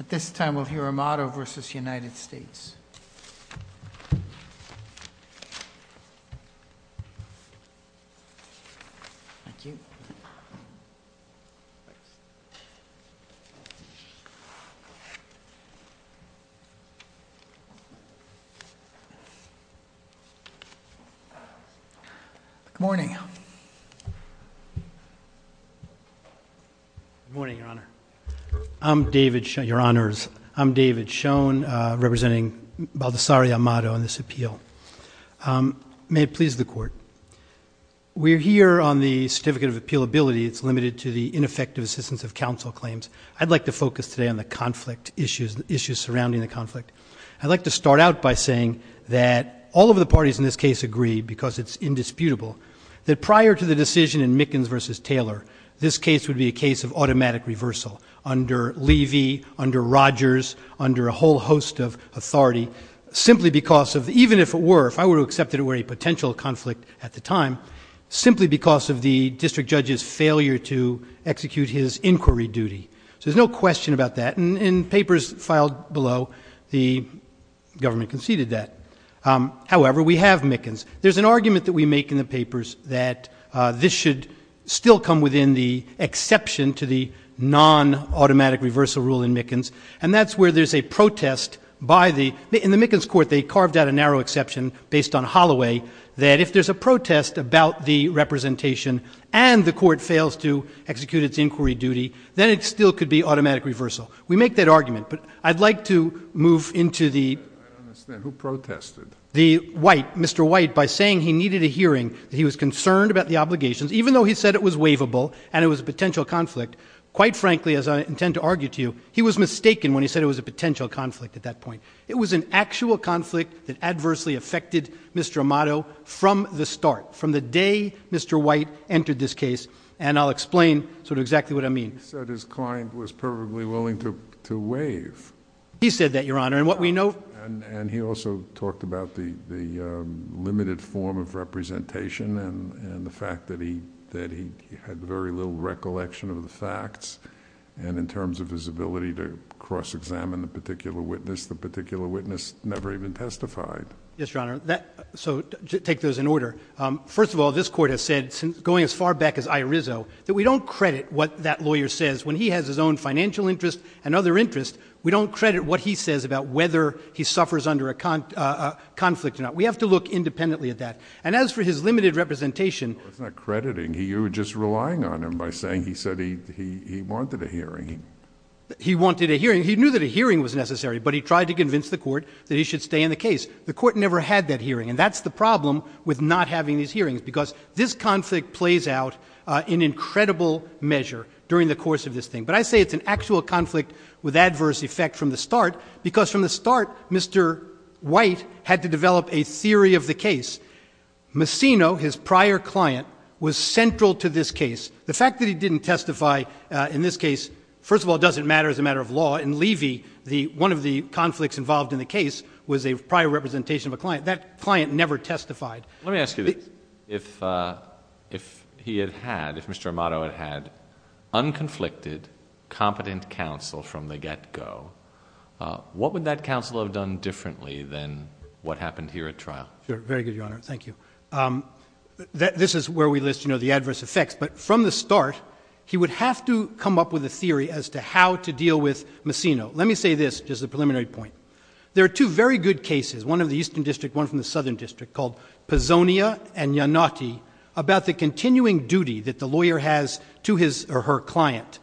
At this time, we'll hear Amato v. United States. Thank you. Good morning. Good morning, Your Honor. I'm David Schoen, representing Baldessari Amato on this appeal. May it please the Court. We're here on the certificate of appealability. It's limited to the ineffective assistance of counsel claims. I'd like to focus today on the conflict issues, issues surrounding the conflict. I'd like to start out by saying that all of the parties in this case agree, because it's indisputable, that prior to the decision in Mickens v. Taylor, this case would be a case of automatic reversal under Levy, under Rogers, under a whole host of authority, simply because of, even if it were, if I were to accept it were a potential conflict at the time, simply because of the district judge's failure to execute his inquiry duty. So there's no question about that. In papers filed below, the government conceded that. However, we have Mickens. There's an argument that we make in the papers that this should still come within the exception to the non-automatic reversal rule in Mickens, and that's where there's a protest by the, in the Mickens court, they carved out a narrow exception based on Holloway, that if there's a protest about the representation and the court fails to execute its inquiry duty, then it still could be automatic reversal. We make that argument. But I'd like to move into the. I don't understand. Who protested? The White, Mr. White, by saying he needed a hearing, that he was concerned about the obligations, even though he said it was waivable and it was a potential conflict. Quite frankly, as I intend to argue to you, he was mistaken when he said it was a potential conflict at that point. It was an actual conflict that adversely affected Mr. Amato from the start, from the day Mr. White entered this case, and I'll explain sort of exactly what I mean. He said his client was perfectly willing to waive. He said that, Your Honor, and what we know. And he also talked about the limited form of representation and the fact that he had very little recollection of the facts, and in terms of his ability to cross-examine the particular witness, the particular witness never even testified. Yes, Your Honor. So take those in order. First of all, this court has said, going as far back as Irizo, that we don't credit what that lawyer says. When he has his own financial interest and other interests, we don't credit what he says about whether he suffers under a conflict or not. We have to look independently at that. And as for his limited representation. No, it's not crediting. You're just relying on him by saying he said he wanted a hearing. He wanted a hearing. He knew that a hearing was necessary, but he tried to convince the court that he should stay in the case. The court never had that hearing, and that's the problem with not having these hearings, because this conflict plays out in incredible measure during the course of this thing. But I say it's an actual conflict with adverse effect from the start, because from the start, Mr. White had to develop a theory of the case. Messino, his prior client, was central to this case. The fact that he didn't testify in this case, first of all, doesn't matter as a matter of law. In Levy, one of the conflicts involved in the case was a prior representation of a client. That client never testified. Let me ask you this. If he had had, if Mr. Amato had had unconflicted, competent counsel from the get-go, what would that counsel have done differently than what happened here at trial? Very good, Your Honor. This is where we list, you know, the adverse effects. But from the start, he would have to come up with a theory as to how to deal with Messino. Let me say this, just a preliminary point. There are two very good cases, one of the Eastern District, one from the Southern District, called Pizzonia and Iannotti, about the continuing duty that the lawyer has to his or her client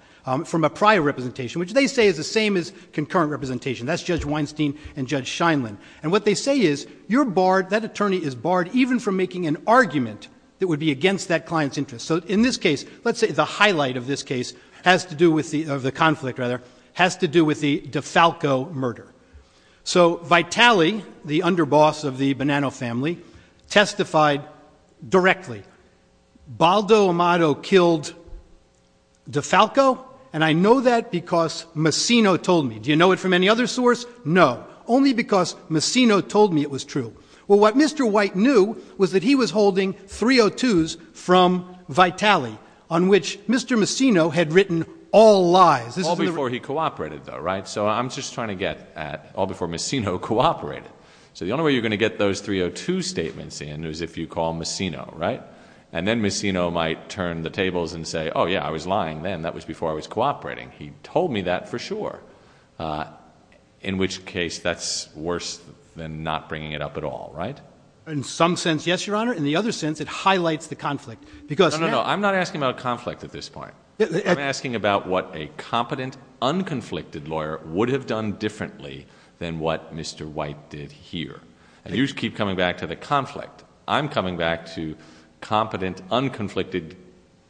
from a prior representation, which they say is the same as concurrent representation. That's Judge Weinstein and Judge Scheinlin. And what they say is, you're barred, that attorney is barred, even from making an argument that would be against that client's interest. So in this case, let's say the highlight of this case has to do with the, of the conflict, rather, has to do with the DeFalco murder. So Vitale, the underboss of the Bonanno family, testified directly. Baldo Amato killed DeFalco, and I know that because Messino told me. Do you know it from any other source? No. Only because Messino told me it was true. Well, what Mr. White knew was that he was holding 302s from Vitale, on which Mr. Messino had written all lies. All before he cooperated, though, right? So I'm just trying to get at all before Messino cooperated. So the only way you're going to get those 302 statements in is if you call Messino, right? And then Messino might turn the tables and say, oh, yeah, I was lying then. That was before I was cooperating. He told me that for sure, in which case that's worse than not bringing it up at all, right? In some sense, yes, Your Honor. In the other sense, it highlights the conflict. No, no, no. I'm not asking about a conflict at this point. I'm asking about what a competent, unconflicted lawyer would have done differently than what Mr. White did here. And you keep coming back to the conflict. I'm coming back to competent, unconflicted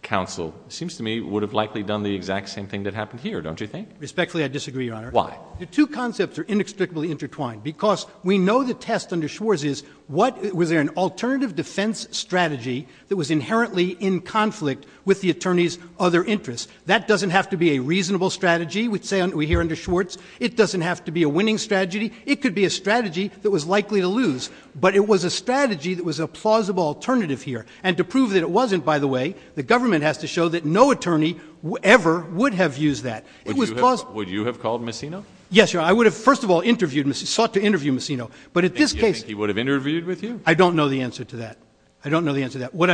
counsel, seems to me, would have likely done the exact same thing that happened here, don't you think? Respectfully, I disagree, Your Honor. Why? The two concepts are inextricably intertwined because we know the test under Schwartz is Was there an alternative defense strategy that was inherently in conflict with the attorney's other interests? That doesn't have to be a reasonable strategy, we hear under Schwartz. It doesn't have to be a winning strategy. It could be a strategy that was likely to lose. But it was a strategy that was a plausible alternative here. And to prove that it wasn't, by the way, the government has to show that no attorney ever would have used that. It was plausible. Would you have called Messino? Yes, Your Honor. I would have, first of all, sought to interview Messino. But at this case Do you think he would have interviewed with you? I don't know the answer to that. I don't know the answer to that. You would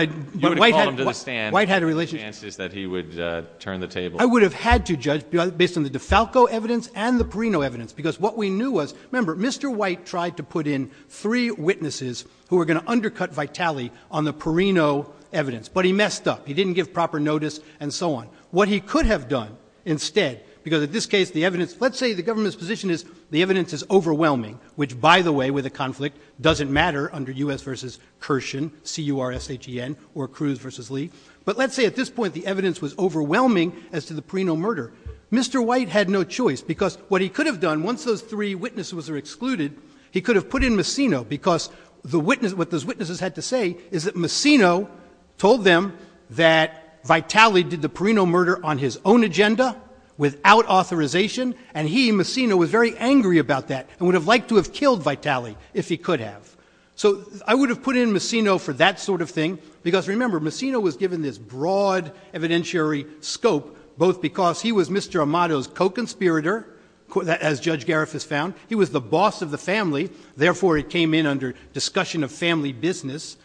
have called him to the stand. White had a relationship. The chance is that he would turn the table. I would have had to judge based on the DeFalco evidence and the Perino evidence. Because what we knew was, remember, Mr. White tried to put in three witnesses who were going to undercut Vitale on the Perino evidence. But he messed up. He didn't give proper notice and so on. What he could have done instead, because at this case the evidence, let's say the government's position is the evidence is overwhelming, which, by the way, with a conflict, doesn't matter under U.S. v. Kirshen, C-U-R-S-H-E-N, or Cruz v. Lee. But let's say at this point the evidence was overwhelming as to the Perino murder. Mr. White had no choice. Because what he could have done, once those three witnesses were excluded, he could have put in Messino. Because what those witnesses had to say is that Messino told them that Vitale did the Perino murder on his own agenda, without authorization. And he, Messino, was very angry about that. And would have liked to have killed Vitale if he could have. So I would have put in Messino for that sort of thing. Because, remember, Messino was given this broad evidentiary scope, both because he was Mr. Amato's co-conspirator, as Judge Gariff has found. He was the boss of the family. Therefore, he came in under discussion of family business.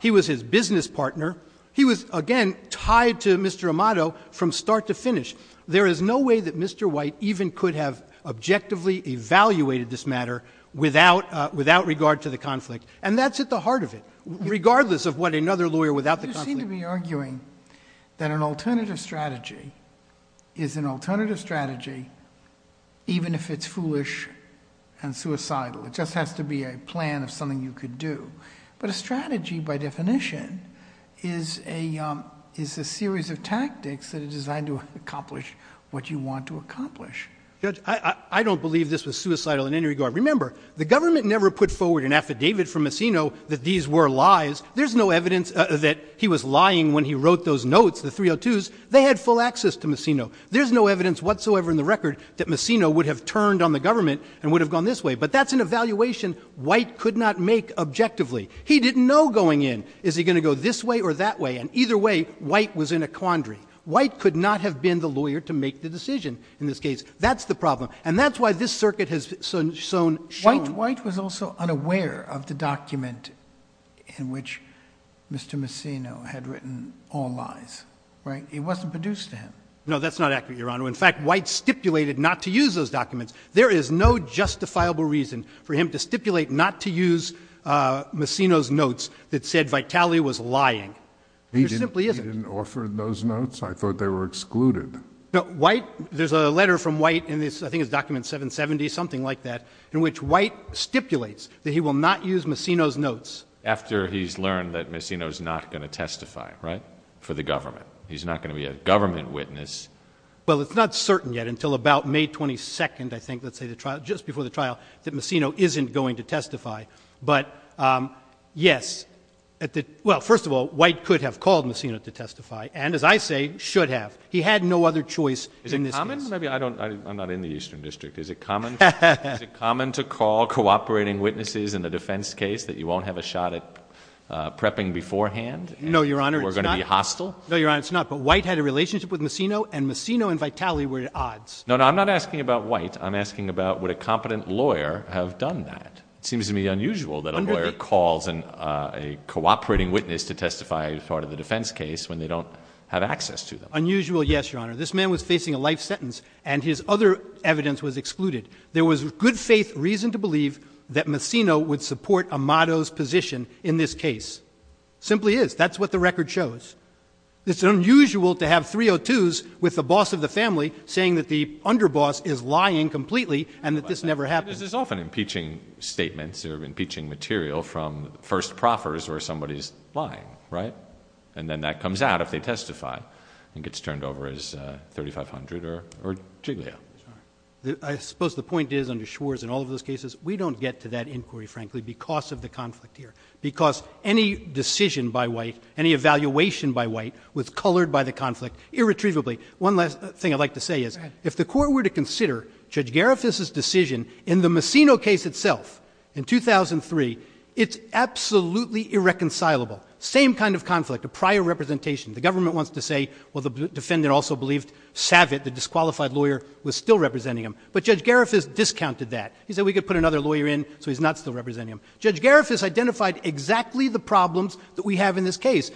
He was his business partner. He was, again, tied to Mr. Amato from start to finish. There is no way that Mr. White even could have objectively evaluated this matter without regard to the conflict. And that's at the heart of it. Regardless of what another lawyer without the conflict. You seem to be arguing that an alternative strategy is an alternative strategy even if it's foolish and suicidal. It just has to be a plan of something you could do. But a strategy, by definition, is a series of tactics that are designed to accomplish what you want to accomplish. Judge, I don't believe this was suicidal in any regard. Remember, the government never put forward an affidavit for Messino that these were lies. There's no evidence that he was lying when he wrote those notes, the 302s. They had full access to Messino. There's no evidence whatsoever in the record that Messino would have turned on the government and would have gone this way. But that's an evaluation White could not make objectively. He didn't know going in. Is he going to go this way or that way? And either way, White was in a quandary. White could not have been the lawyer to make the decision in this case. That's the problem. And that's why this circuit has shown— White was also unaware of the document in which Mr. Messino had written all lies, right? It wasn't produced to him. No, that's not accurate, Your Honor. In fact, White stipulated not to use those documents. There is no justifiable reason for him to stipulate not to use Messino's notes that said Vitale was lying. There simply isn't. He didn't offer those notes? I thought they were excluded. White—there's a letter from White in this—I think it's document 770, something like that, in which White stipulates that he will not use Messino's notes. After he's learned that Messino's not going to testify, right, for the government. He's not going to be a government witness. Well, it's not certain yet until about May 22nd, I think, let's say the trial, just before the trial, that Messino isn't going to testify. But, yes, at the—well, first of all, White could have called Messino to testify and, as I say, should have. He had no other choice in this case. Is it common? Maybe I don't—I'm not in the Eastern District. Is it common to call cooperating witnesses in a defense case that you won't have a shot at prepping beforehand? No, Your Honor, it's not. And we're going to be hostile? No, Your Honor, it's not. But White had a relationship with Messino, and Messino and Vitale were at odds. No, no, I'm not asking about White. I'm asking about would a competent lawyer have done that. It seems to me unusual that a lawyer calls a cooperating witness to testify as part of the defense case when they don't have access to them. Unusual, yes, Your Honor. This man was facing a life sentence, and his other evidence was excluded. There was good faith reason to believe that Messino would support Amato's position in this case. It simply is. That's what the record shows. It's unusual to have 302s with the boss of the family saying that the underboss is lying completely and that this never happened. But this is often impeaching statements or impeaching material from first proffers where somebody is lying, right? And then that comes out if they testify. I think it's turned over as 3500 or Jiglia. I suppose the point is under Schwartz and all of those cases, we don't get to that inquiry, frankly, because of the conflict here. Because any decision by White, any evaluation by White was colored by the conflict irretrievably. One last thing I'd like to say is if the court were to consider Judge Garifuss' decision in the Messino case itself in 2003, it's absolutely irreconcilable. Same kind of conflict, a prior representation. The government wants to say, well, the defendant also believed Savitt, the disqualified lawyer, was still representing him. But Judge Garifuss discounted that. He said we could put another lawyer in so he's not still representing him. Judge Garifuss identified exactly the problems that we have in this case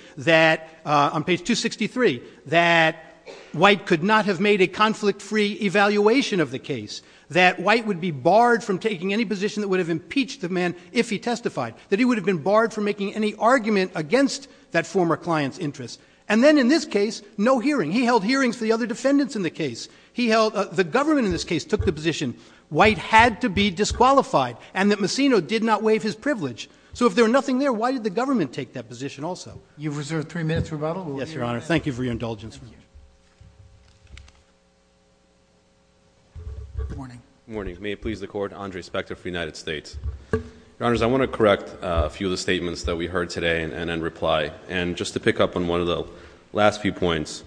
on page 263. That White could not have made a conflict-free evaluation of the case. That White would be barred from taking any position that would have impeached the man if he testified. That he would have been barred from making any argument against that former client's interests. And then in this case, no hearing. He held hearings for the other defendants in the case. The government in this case took the position White had to be disqualified. And that Messino did not waive his privilege. So if there were nothing there, why did the government take that position also? You've reserved three minutes for rebuttal. Yes, Your Honor. Thank you for your indulgence. Good morning. Good morning. May it please the Court. Andre Spector for the United States. Your Honors, I want to correct a few of the statements that we heard today and then reply. And just to pick up on one of the last few points.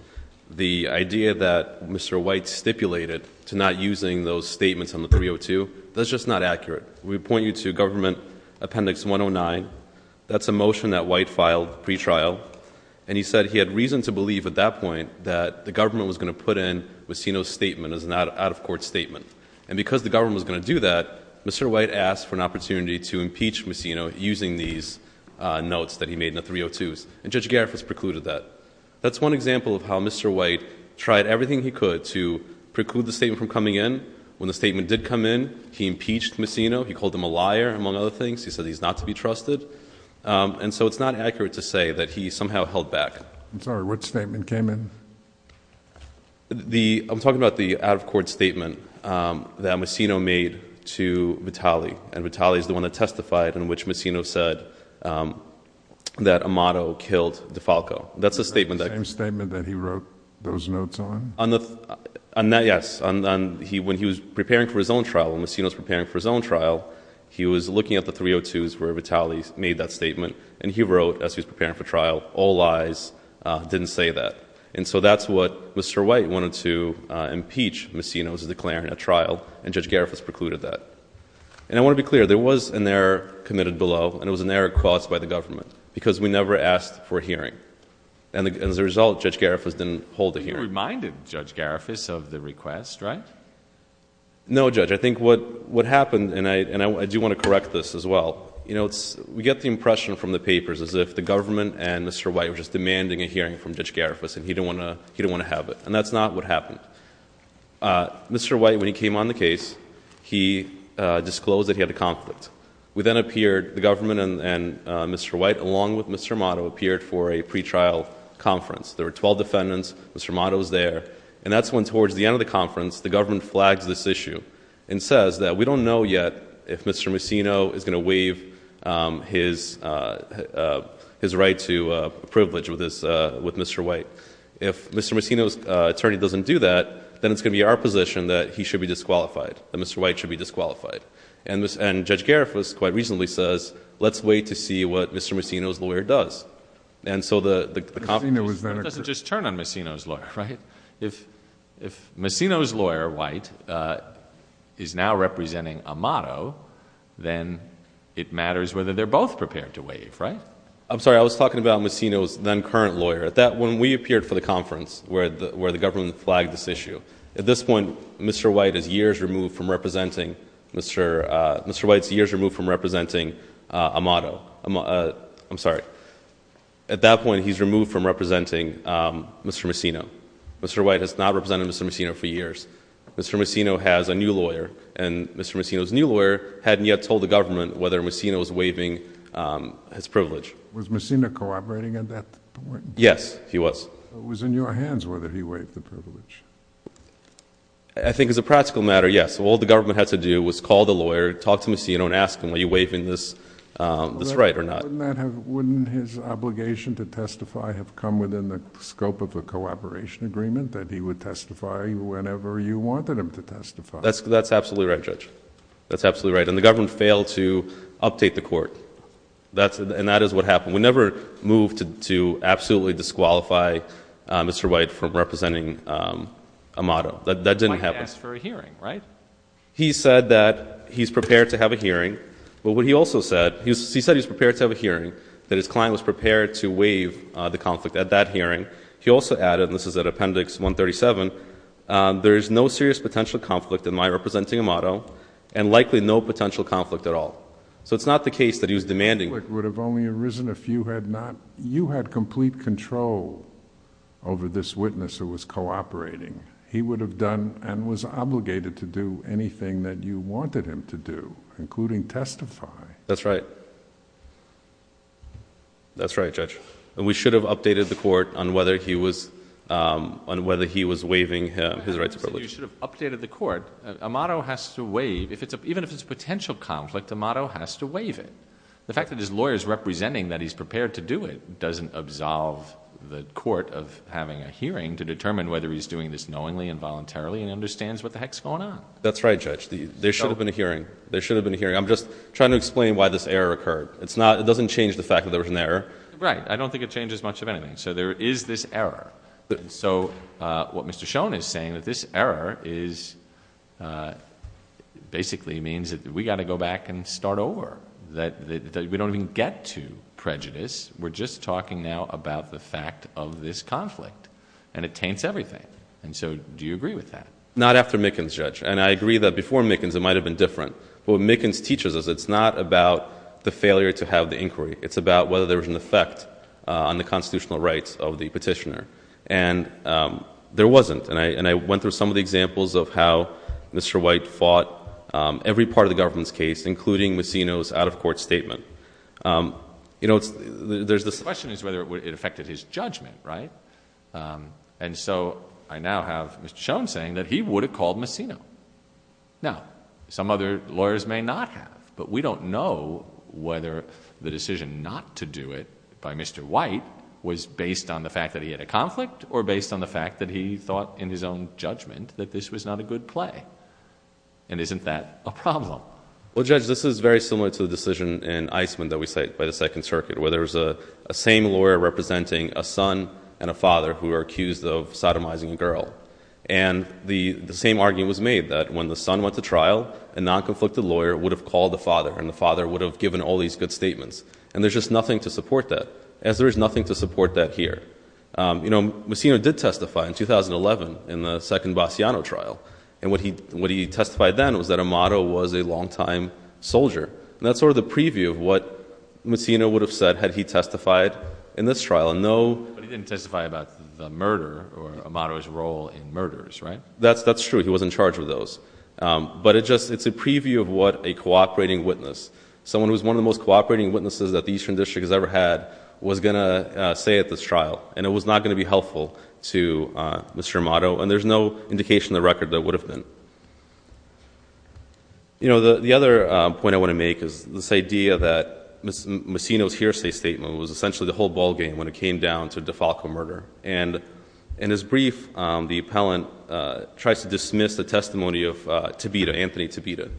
The idea that Mr. White stipulated to not using those statements on the 302, that's just not accurate. We point you to Government Appendix 109. That's a motion that White filed pre-trial. And he said he had reason to believe at that point that the government was going to put in Messino's statement as an out-of-court statement. And because the government was going to do that, Mr. White asked for an opportunity to impeach Messino using these notes that he made in the 302s. And Judge Garifuz precluded that. That's one example of how Mr. White tried everything he could to preclude the statement from coming in. When the statement did come in, he impeached Messino. He called him a liar, among other things. He said he's not to be trusted. And so it's not accurate to say that he somehow held back. I'm sorry. Which statement came in? I'm talking about the out-of-court statement that Messino made to Vitale. And Vitale is the one that testified in which Messino said that Amato killed DeFalco. That's the statement that... The same statement that he wrote those notes on? Yes. When he was preparing for his own trial, when Messino was preparing for his own trial, he was looking at the 302s where Vitale made that statement. And he wrote, as he was preparing for trial, all lies. Didn't say that. And so that's what Mr. White wanted to impeach Messino as declaring a trial. And Judge Garifuz precluded that. And I want to be clear. There was an error committed below, and it was an error caused by the government. Because we never asked for a hearing. And as a result, Judge Garifuz didn't hold a hearing. You reminded Judge Garifuz of the request, right? No, Judge. I think what happened, and I do want to correct this as well. You know, we get the impression from the papers as if the government and Mr. White were just demanding a hearing from Judge Garifuz, and he didn't want to have it. And that's not what happened. Mr. White, when he came on the case, he disclosed that he had a conflict. The government and Mr. White, along with Mr. Amato, appeared for a pretrial conference. There were 12 defendants. Mr. Amato was there. And that's when, towards the end of the conference, the government flags this issue and says that we don't know yet if Mr. Messino is going to waive his right to privilege with Mr. White. If Mr. Messino's attorney doesn't do that, then it's going to be our position that he should be disqualified, that Mr. White should be disqualified. And Judge Garifuz quite reasonably says, let's wait to see what Mr. Messino's lawyer does. And so the... That doesn't just turn on Messino's lawyer, right? If Messino's lawyer, White, is now representing Amato, then it matters whether they're both prepared to waive, right? I'm sorry. I was talking about Messino's then current lawyer. When we appeared for the conference, where the government flagged this issue, at this point, Mr. White is years removed from representing Amato. I'm sorry. At that point, he's removed from representing Mr. Messino. Mr. White has not represented Mr. Messino for years. Mr. Messino has a new lawyer. And Mr. Messino's new lawyer hadn't yet told the government whether Messino was waiving his privilege. Was Messino cooperating at that point? Yes, he was. It was in your hands whether he waived the privilege. I think as a practical matter, yes. All the government had to do was call the lawyer, talk to Messino, and ask him, are you waiving this right or not? Wouldn't his obligation to testify have come within the scope of the cooperation agreement, that he would testify whenever you wanted him to testify? That's absolutely right, Judge. That's absolutely right. And the government failed to update the court. And that is what happened. We never moved to absolutely disqualify Mr. White from representing Amato. That didn't happen. He might ask for a hearing, right? He said that he's prepared to have a hearing. But what he also said, he said he's prepared to have a hearing, that his client was prepared to waive the conflict at that hearing. He also added, and this is at Appendix 137, there is no serious potential conflict in my representing Amato and likely no potential conflict at all. So it's not the case that he was demanding... The conflict would have only arisen if you had complete control over this witness who was cooperating. He would have done and was obligated to do anything that you wanted him to do, including testify. That's right. That's right, Judge. And we should have updated the court on whether he was waiving his rights of privilege. You should have updated the court. Amato has to waive. Even if it's a potential conflict, Amato has to waive it. The fact that his lawyer is representing that he's prepared to do it doesn't absolve the court of having a hearing to determine whether he's doing this knowingly and voluntarily and understands what the heck's going on. That's right, Judge. There should have been a hearing. There should have been a hearing. I'm just trying to explain why this error occurred. It doesn't change the fact that there was an error. Right. I don't think it changes much of anything. So there is this error. So what Mr. Schoen is saying, that this error basically means that we've got to go back and start over, that we don't even get to prejudice. We're just talking now about the fact of this conflict, and it taints everything. So do you agree with that? Not after Mickens, Judge, and I agree that before Mickens it might have been different. What Mickens teaches us, it's not about the failure to have the inquiry. It's about whether there was an effect on the constitutional rights of the petitioner, and there wasn't. And I went through some of the examples of how Mr. White fought every part of the government's case, including Messino's out-of-court statement. The question is whether it affected his judgment, right? And so I now have Mr. Schoen saying that he would have called Messino. Now, some other lawyers may not have, but we don't know whether the decision not to do it by Mr. White was based on the fact that he had a conflict or based on the fact that he thought in his own judgment that this was not a good play. And isn't that a problem? Well, Judge, this is very similar to the decision in Eisman that we cite by the Second Circuit, where there was the same lawyer representing a son and a father who were accused of sodomizing a girl. And the same argument was made that when the son went to trial, a non-conflicted lawyer would have called the father, and the father would have given all these good statements. And there's just nothing to support that, as there is nothing to support that here. You know, Messino did testify in 2011 in the second Bassiano trial, and what he testified then was that Amato was a long-time soldier. And that's sort of the preview of what Messino would have said had he testified in this trial. But he didn't testify about the murder or Amato's role in murders, right? That's true. He was in charge of those. But it's a preview of what a cooperating witness, someone who is one of the most cooperating witnesses that the Eastern District has ever had, was going to say at this trial, and it was not going to be helpful to Mr. Amato, and there's no indication in the record that it would have been. You know, the other point I want to make is this idea that Messino's hearsay statement was essentially the whole ballgame when it came down to DeFalco murder. And in his brief, the appellant tries to dismiss the testimony of Tabita, Anthony Tabita,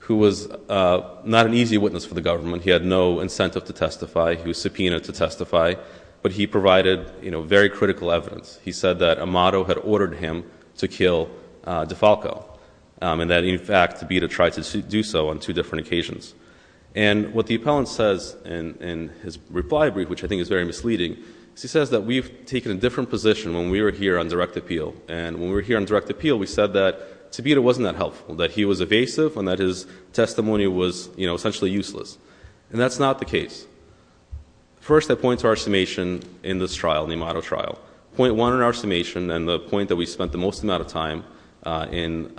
who was not an easy witness for the government. He had no incentive to testify. He was subpoenaed to testify. But he provided, you know, very critical evidence. He said that Amato had ordered him to kill DeFalco, and that, in fact, Tabita tried to do so on two different occasions. And what the appellant says in his reply brief, which I think is very misleading, is he says that we've taken a different position when we were here on direct appeal. And when we were here on direct appeal, we said that Tabita wasn't that helpful, that he was evasive and that his testimony was, you know, essentially useless. And that's not the case. First, I point to our estimation in this trial, the Amato trial. Point one in our estimation and the point that we spent the most amount of time in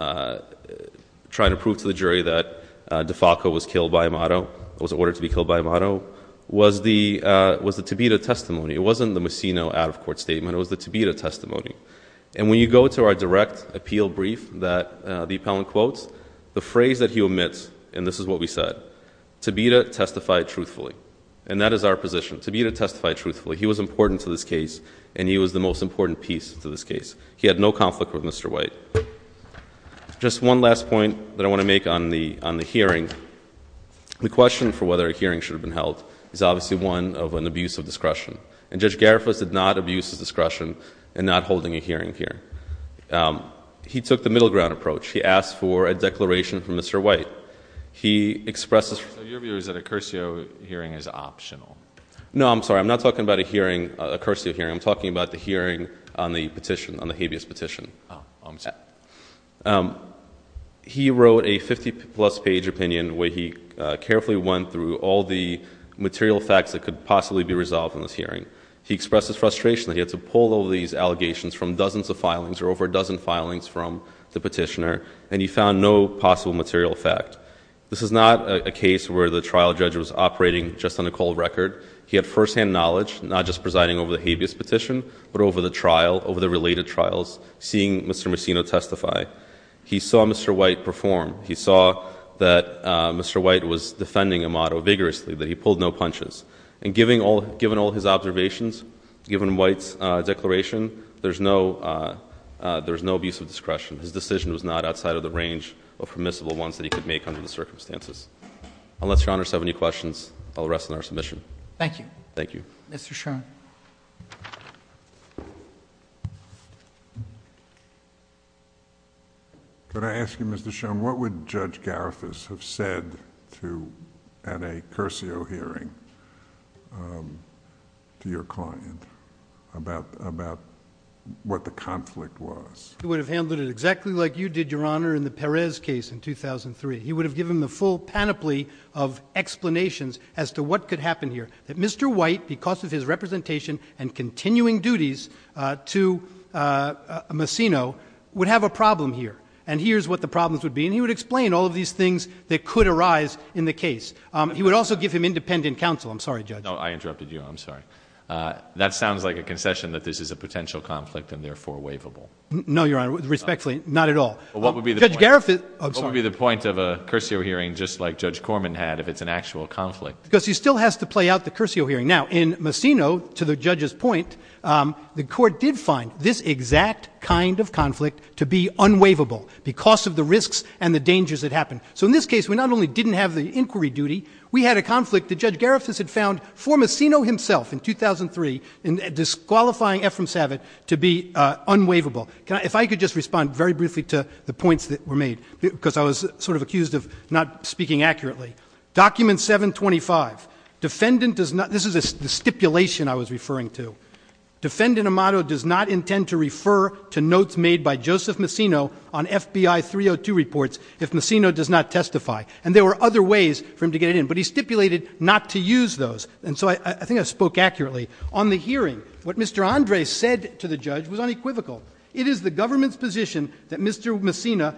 trying to prove to the jury that DeFalco was killed by Amato, was ordered to be killed by Amato, was the Tabita testimony. It wasn't the Mosino out-of-court statement. It was the Tabita testimony. And when you go to our direct appeal brief that the appellant quotes, the phrase that he omits, and this is what we said, Tabita testified truthfully, and that is our position. Tabita testified truthfully. He was important to this case, and he was the most important piece to this case. He had no conflict with Mr. White. Just one last point that I want to make on the hearing. The question for whether a hearing should have been held is obviously one of an abuse of discretion. And Judge Garifalos did not abuse his discretion in not holding a hearing here. He took the middle ground approach. He asked for a declaration from Mr. White. He expressed his... So your view is that a cursio hearing is optional? No, I'm sorry. I'm not talking about a cursio hearing. I'm talking about the hearing on the petition, on the habeas petition. Oh, I'm sorry. He wrote a 50-plus page opinion where he carefully went through all the material facts that could possibly be resolved in this hearing. He expressed his frustration that he had to pull all these allegations from dozens of filings or over a dozen filings from the petitioner, and he found no possible material fact. This is not a case where the trial judge was operating just on a cold record. He had firsthand knowledge, not just presiding over the habeas petition, but over the trial, over the related trials, seeing Mr. Messino testify. He saw Mr. White perform. He saw that Mr. White was defending Amado vigorously, that he pulled no punches. And given all his observations, given White's declaration, there's no abuse of discretion. His decision was not outside of the range of permissible ones that he could make under the circumstances. Unless Your Honor has any questions, I'll rest on our submission. Thank you. Thank you. Mr. Schoen. Could I ask you, Mr. Schoen, what would Judge Garifas have said at a Curcio hearing to your client about what the conflict was? He would have handled it exactly like you did, Your Honor, in the Perez case in 2003. He would have given the full panoply of explanations as to what could happen here. That Mr. White, because of his representation and continuing duties to Messino, would have a problem here. And here's what the problems would be. And he would explain all of these things that could arise in the case. He would also give him independent counsel. I'm sorry, Judge. No, I interrupted you. I'm sorry. That sounds like a concession that this is a potential conflict and therefore waivable. No, Your Honor, respectfully, not at all. What would be the point of a Curcio hearing just like Judge Corman had if it's an actual conflict? Because he still has to play out the Curcio hearing. Now, in Messino, to the judge's point, the court did find this exact kind of conflict to be unwaivable because of the risks and the dangers that happened. So in this case, we not only didn't have the inquiry duty, we had a conflict that Judge Garifas had found for Messino himself in 2003 in disqualifying Efrem Savit to be unwaivable. If I could just respond very briefly to the points that were made because I was sort of accused of not speaking accurately. Document 725. This is the stipulation I was referring to. Defendant Amato does not intend to refer to notes made by Joseph Messino on FBI 302 reports if Messino does not testify. And there were other ways for him to get it in. But he stipulated not to use those. And so I think I spoke accurately. On the hearing, what Mr. Andre said to the judge was unequivocal. It is the government's position that Mr. Messino,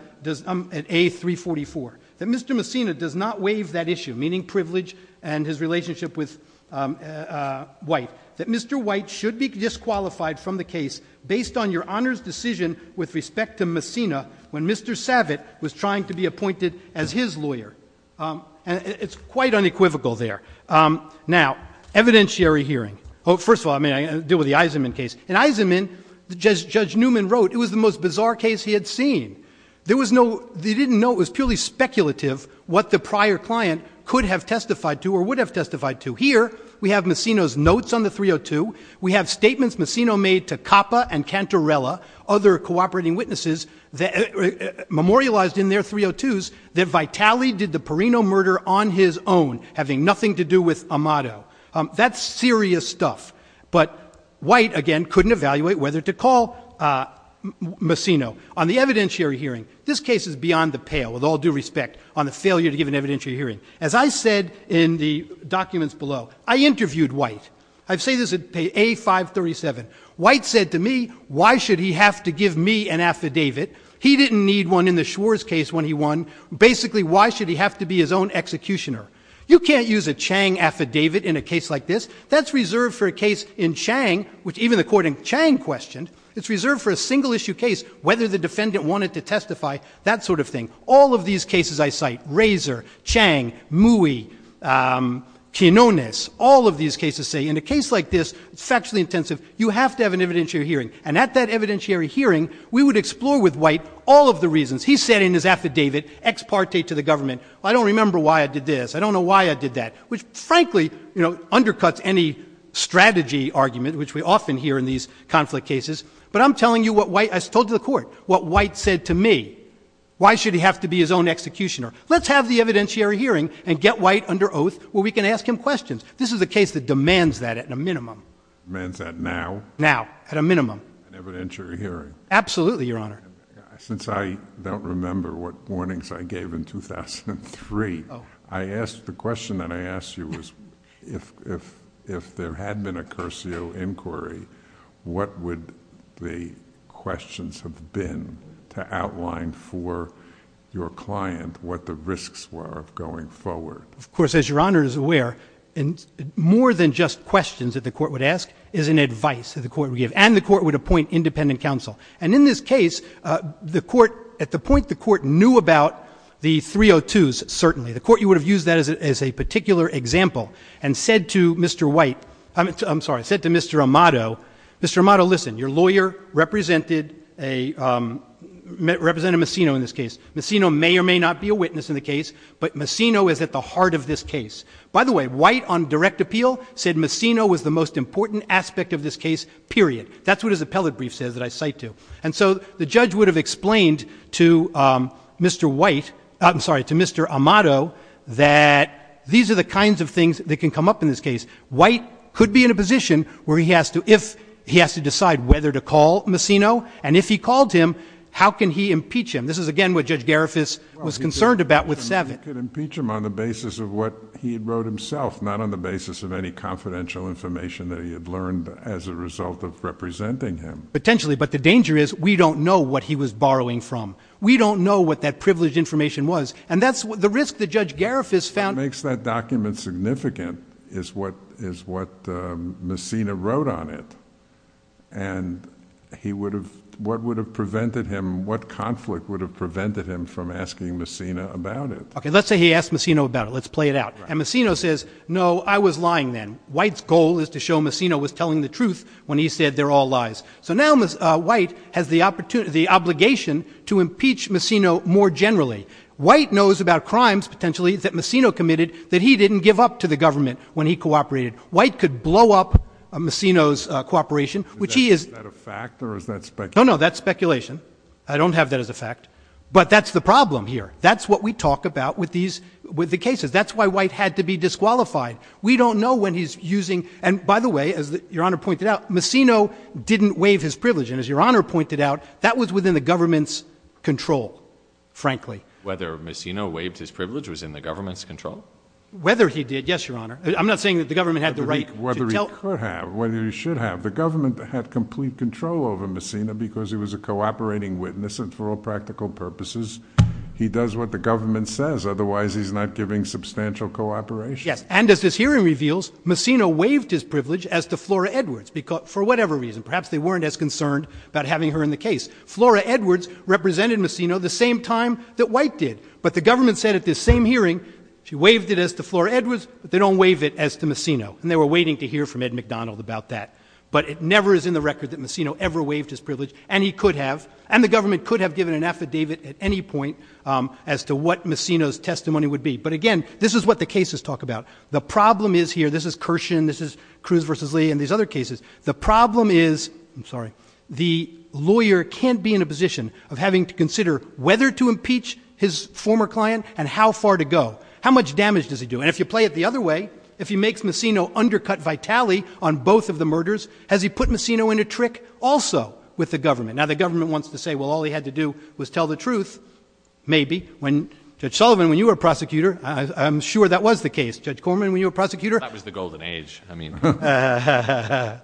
at A344, that Mr. Messino does not waive that issue, meaning privilege and his relationship with White, that Mr. White should be disqualified from the case based on your Honor's decision with respect to Messino when Mr. Savit was trying to be appointed as his lawyer. And it's quite unequivocal there. Now, evidentiary hearing. First of all, I mean, I deal with the Eisenman case. In Eisenman, Judge Newman wrote it was the most bizarre case he had seen. They didn't know it was purely speculative what the prior client could have testified to or would have testified to. Here we have Messino's notes on the 302. We have statements Messino made to Capa and Cantarella, other cooperating witnesses, memorialized in their 302s that Vitale did the Perino murder on his own, having nothing to do with Amato. That's serious stuff. But White, again, couldn't evaluate whether to call Messino. On the evidentiary hearing, this case is beyond the pale, with all due respect, on the failure to give an evidentiary hearing. As I said in the documents below, I interviewed White. I say this at page A537. White said to me, why should he have to give me an affidavit? He didn't need one in the Schwarz case when he won. Basically, why should he have to be his own executioner? You can't use a Chang affidavit in a case like this. That's reserved for a case in Chang, which even the court in Chang questioned. It's reserved for a single-issue case, whether the defendant wanted to testify, that sort of thing. All of these cases I cite, Razor, Chang, Mui, Quinones, all of these cases say in a case like this, it's factually intensive, you have to have an evidentiary hearing. And at that evidentiary hearing, we would explore with White all of the reasons. He said in his affidavit, ex parte to the government, I don't remember why I did this, I don't know why I did that, which frankly undercuts any strategy argument, which we often hear in these conflict cases. But I'm telling you what White, I told the court, what White said to me, why should he have to be his own executioner? Let's have the evidentiary hearing and get White under oath where we can ask him questions. This is a case that demands that at a minimum. Demands that now? Now, at a minimum. An evidentiary hearing. Absolutely, Your Honor. Since I don't remember what warnings I gave in 2003, the question that I asked you was if there had been a Curcio inquiry, what would the questions have been to outline for your client what the risks were going forward? Of course, as Your Honor is aware, more than just questions that the court would ask is an advice that the court would give. And the court would appoint independent counsel. And in this case, the court, at the point the court knew about the 302s, certainly, the court would have used that as a particular example and said to Mr. White, I'm sorry, said to Mr. Amato, Mr. Amato, listen, your lawyer represented Massino in this case. Massino may or may not be a witness in the case, but Massino is at the heart of this case. By the way, White on direct appeal said Massino was the most important aspect of this case, period. That's what his appellate brief says that I cite to. And so the judge would have explained to Mr. White, I'm sorry, to Mr. Amato, that these are the kinds of things that can come up in this case. White could be in a position where he has to, if he has to decide whether to call Massino, and if he called him, how can he impeach him? This is, again, what Judge Garifas was concerned about with Seven. He could impeach him on the basis of what he wrote himself, not on the basis of any confidential information that he had learned as a result of representing him. Potentially, but the danger is we don't know what he was borrowing from. We don't know what that privileged information was. And that's the risk that Judge Garifas found. What makes that document significant is what Massino wrote on it. And he would have, what would have prevented him, what conflict would have prevented him from asking Massino about it? Okay, let's say he asked Massino about it. Let's play it out. And Massino says, no, I was lying then. White's goal is to show Massino was telling the truth when he said they're all lies. So now White has the obligation to impeach Massino more generally. White knows about crimes, potentially, that Massino committed, that he didn't give up to the government when he cooperated. White could blow up Massino's cooperation, which he is. Is that a fact or is that speculation? No, no, that's speculation. I don't have that as a fact. But that's the problem here. That's what we talk about with these, with the cases. That's why White had to be disqualified. We don't know when he's using, and by the way, as Your Honor pointed out, Massino didn't waive his privilege. And as Your Honor pointed out, that was within the government's control, frankly. Whether Massino waived his privilege was in the government's control? Whether he did, yes, Your Honor. I'm not saying that the government had the right to tell. Whether he could have, whether he should have. The government had complete control over Massino because he was a cooperating witness. And for all practical purposes, he does what the government says. Otherwise, he's not giving substantial cooperation. Yes, and as this hearing reveals, Massino waived his privilege as to Flora Edwards, for whatever reason. Perhaps they weren't as concerned about having her in the case. Flora Edwards represented Massino the same time that White did. But the government said at this same hearing, she waived it as to Flora Edwards, but they don't waive it as to Massino. And they were waiting to hear from Ed McDonald about that. But it never is in the record that Massino ever waived his privilege, and he could have. And the government could have given an affidavit at any point as to what Massino's testimony would be. But, again, this is what the cases talk about. The problem is here, this is Kirshen, this is Cruz v. Lee and these other cases, the problem is, I'm sorry, the lawyer can't be in a position of having to consider whether to impeach his former client and how far to go. How much damage does he do? And if you play it the other way, if he makes Massino undercut Vitale on both of the murders, has he put Massino in a trick also with the government? Now the government wants to say, well, all he had to do was tell the truth, maybe. Judge Sullivan, when you were a prosecutor, I'm sure that was the case. Judge Corman, when you were a prosecutor? That was the golden age. I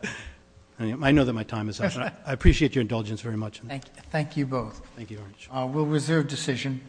know that my time is up, but I appreciate your indulgence very much. Thank you both. We'll reserve decision.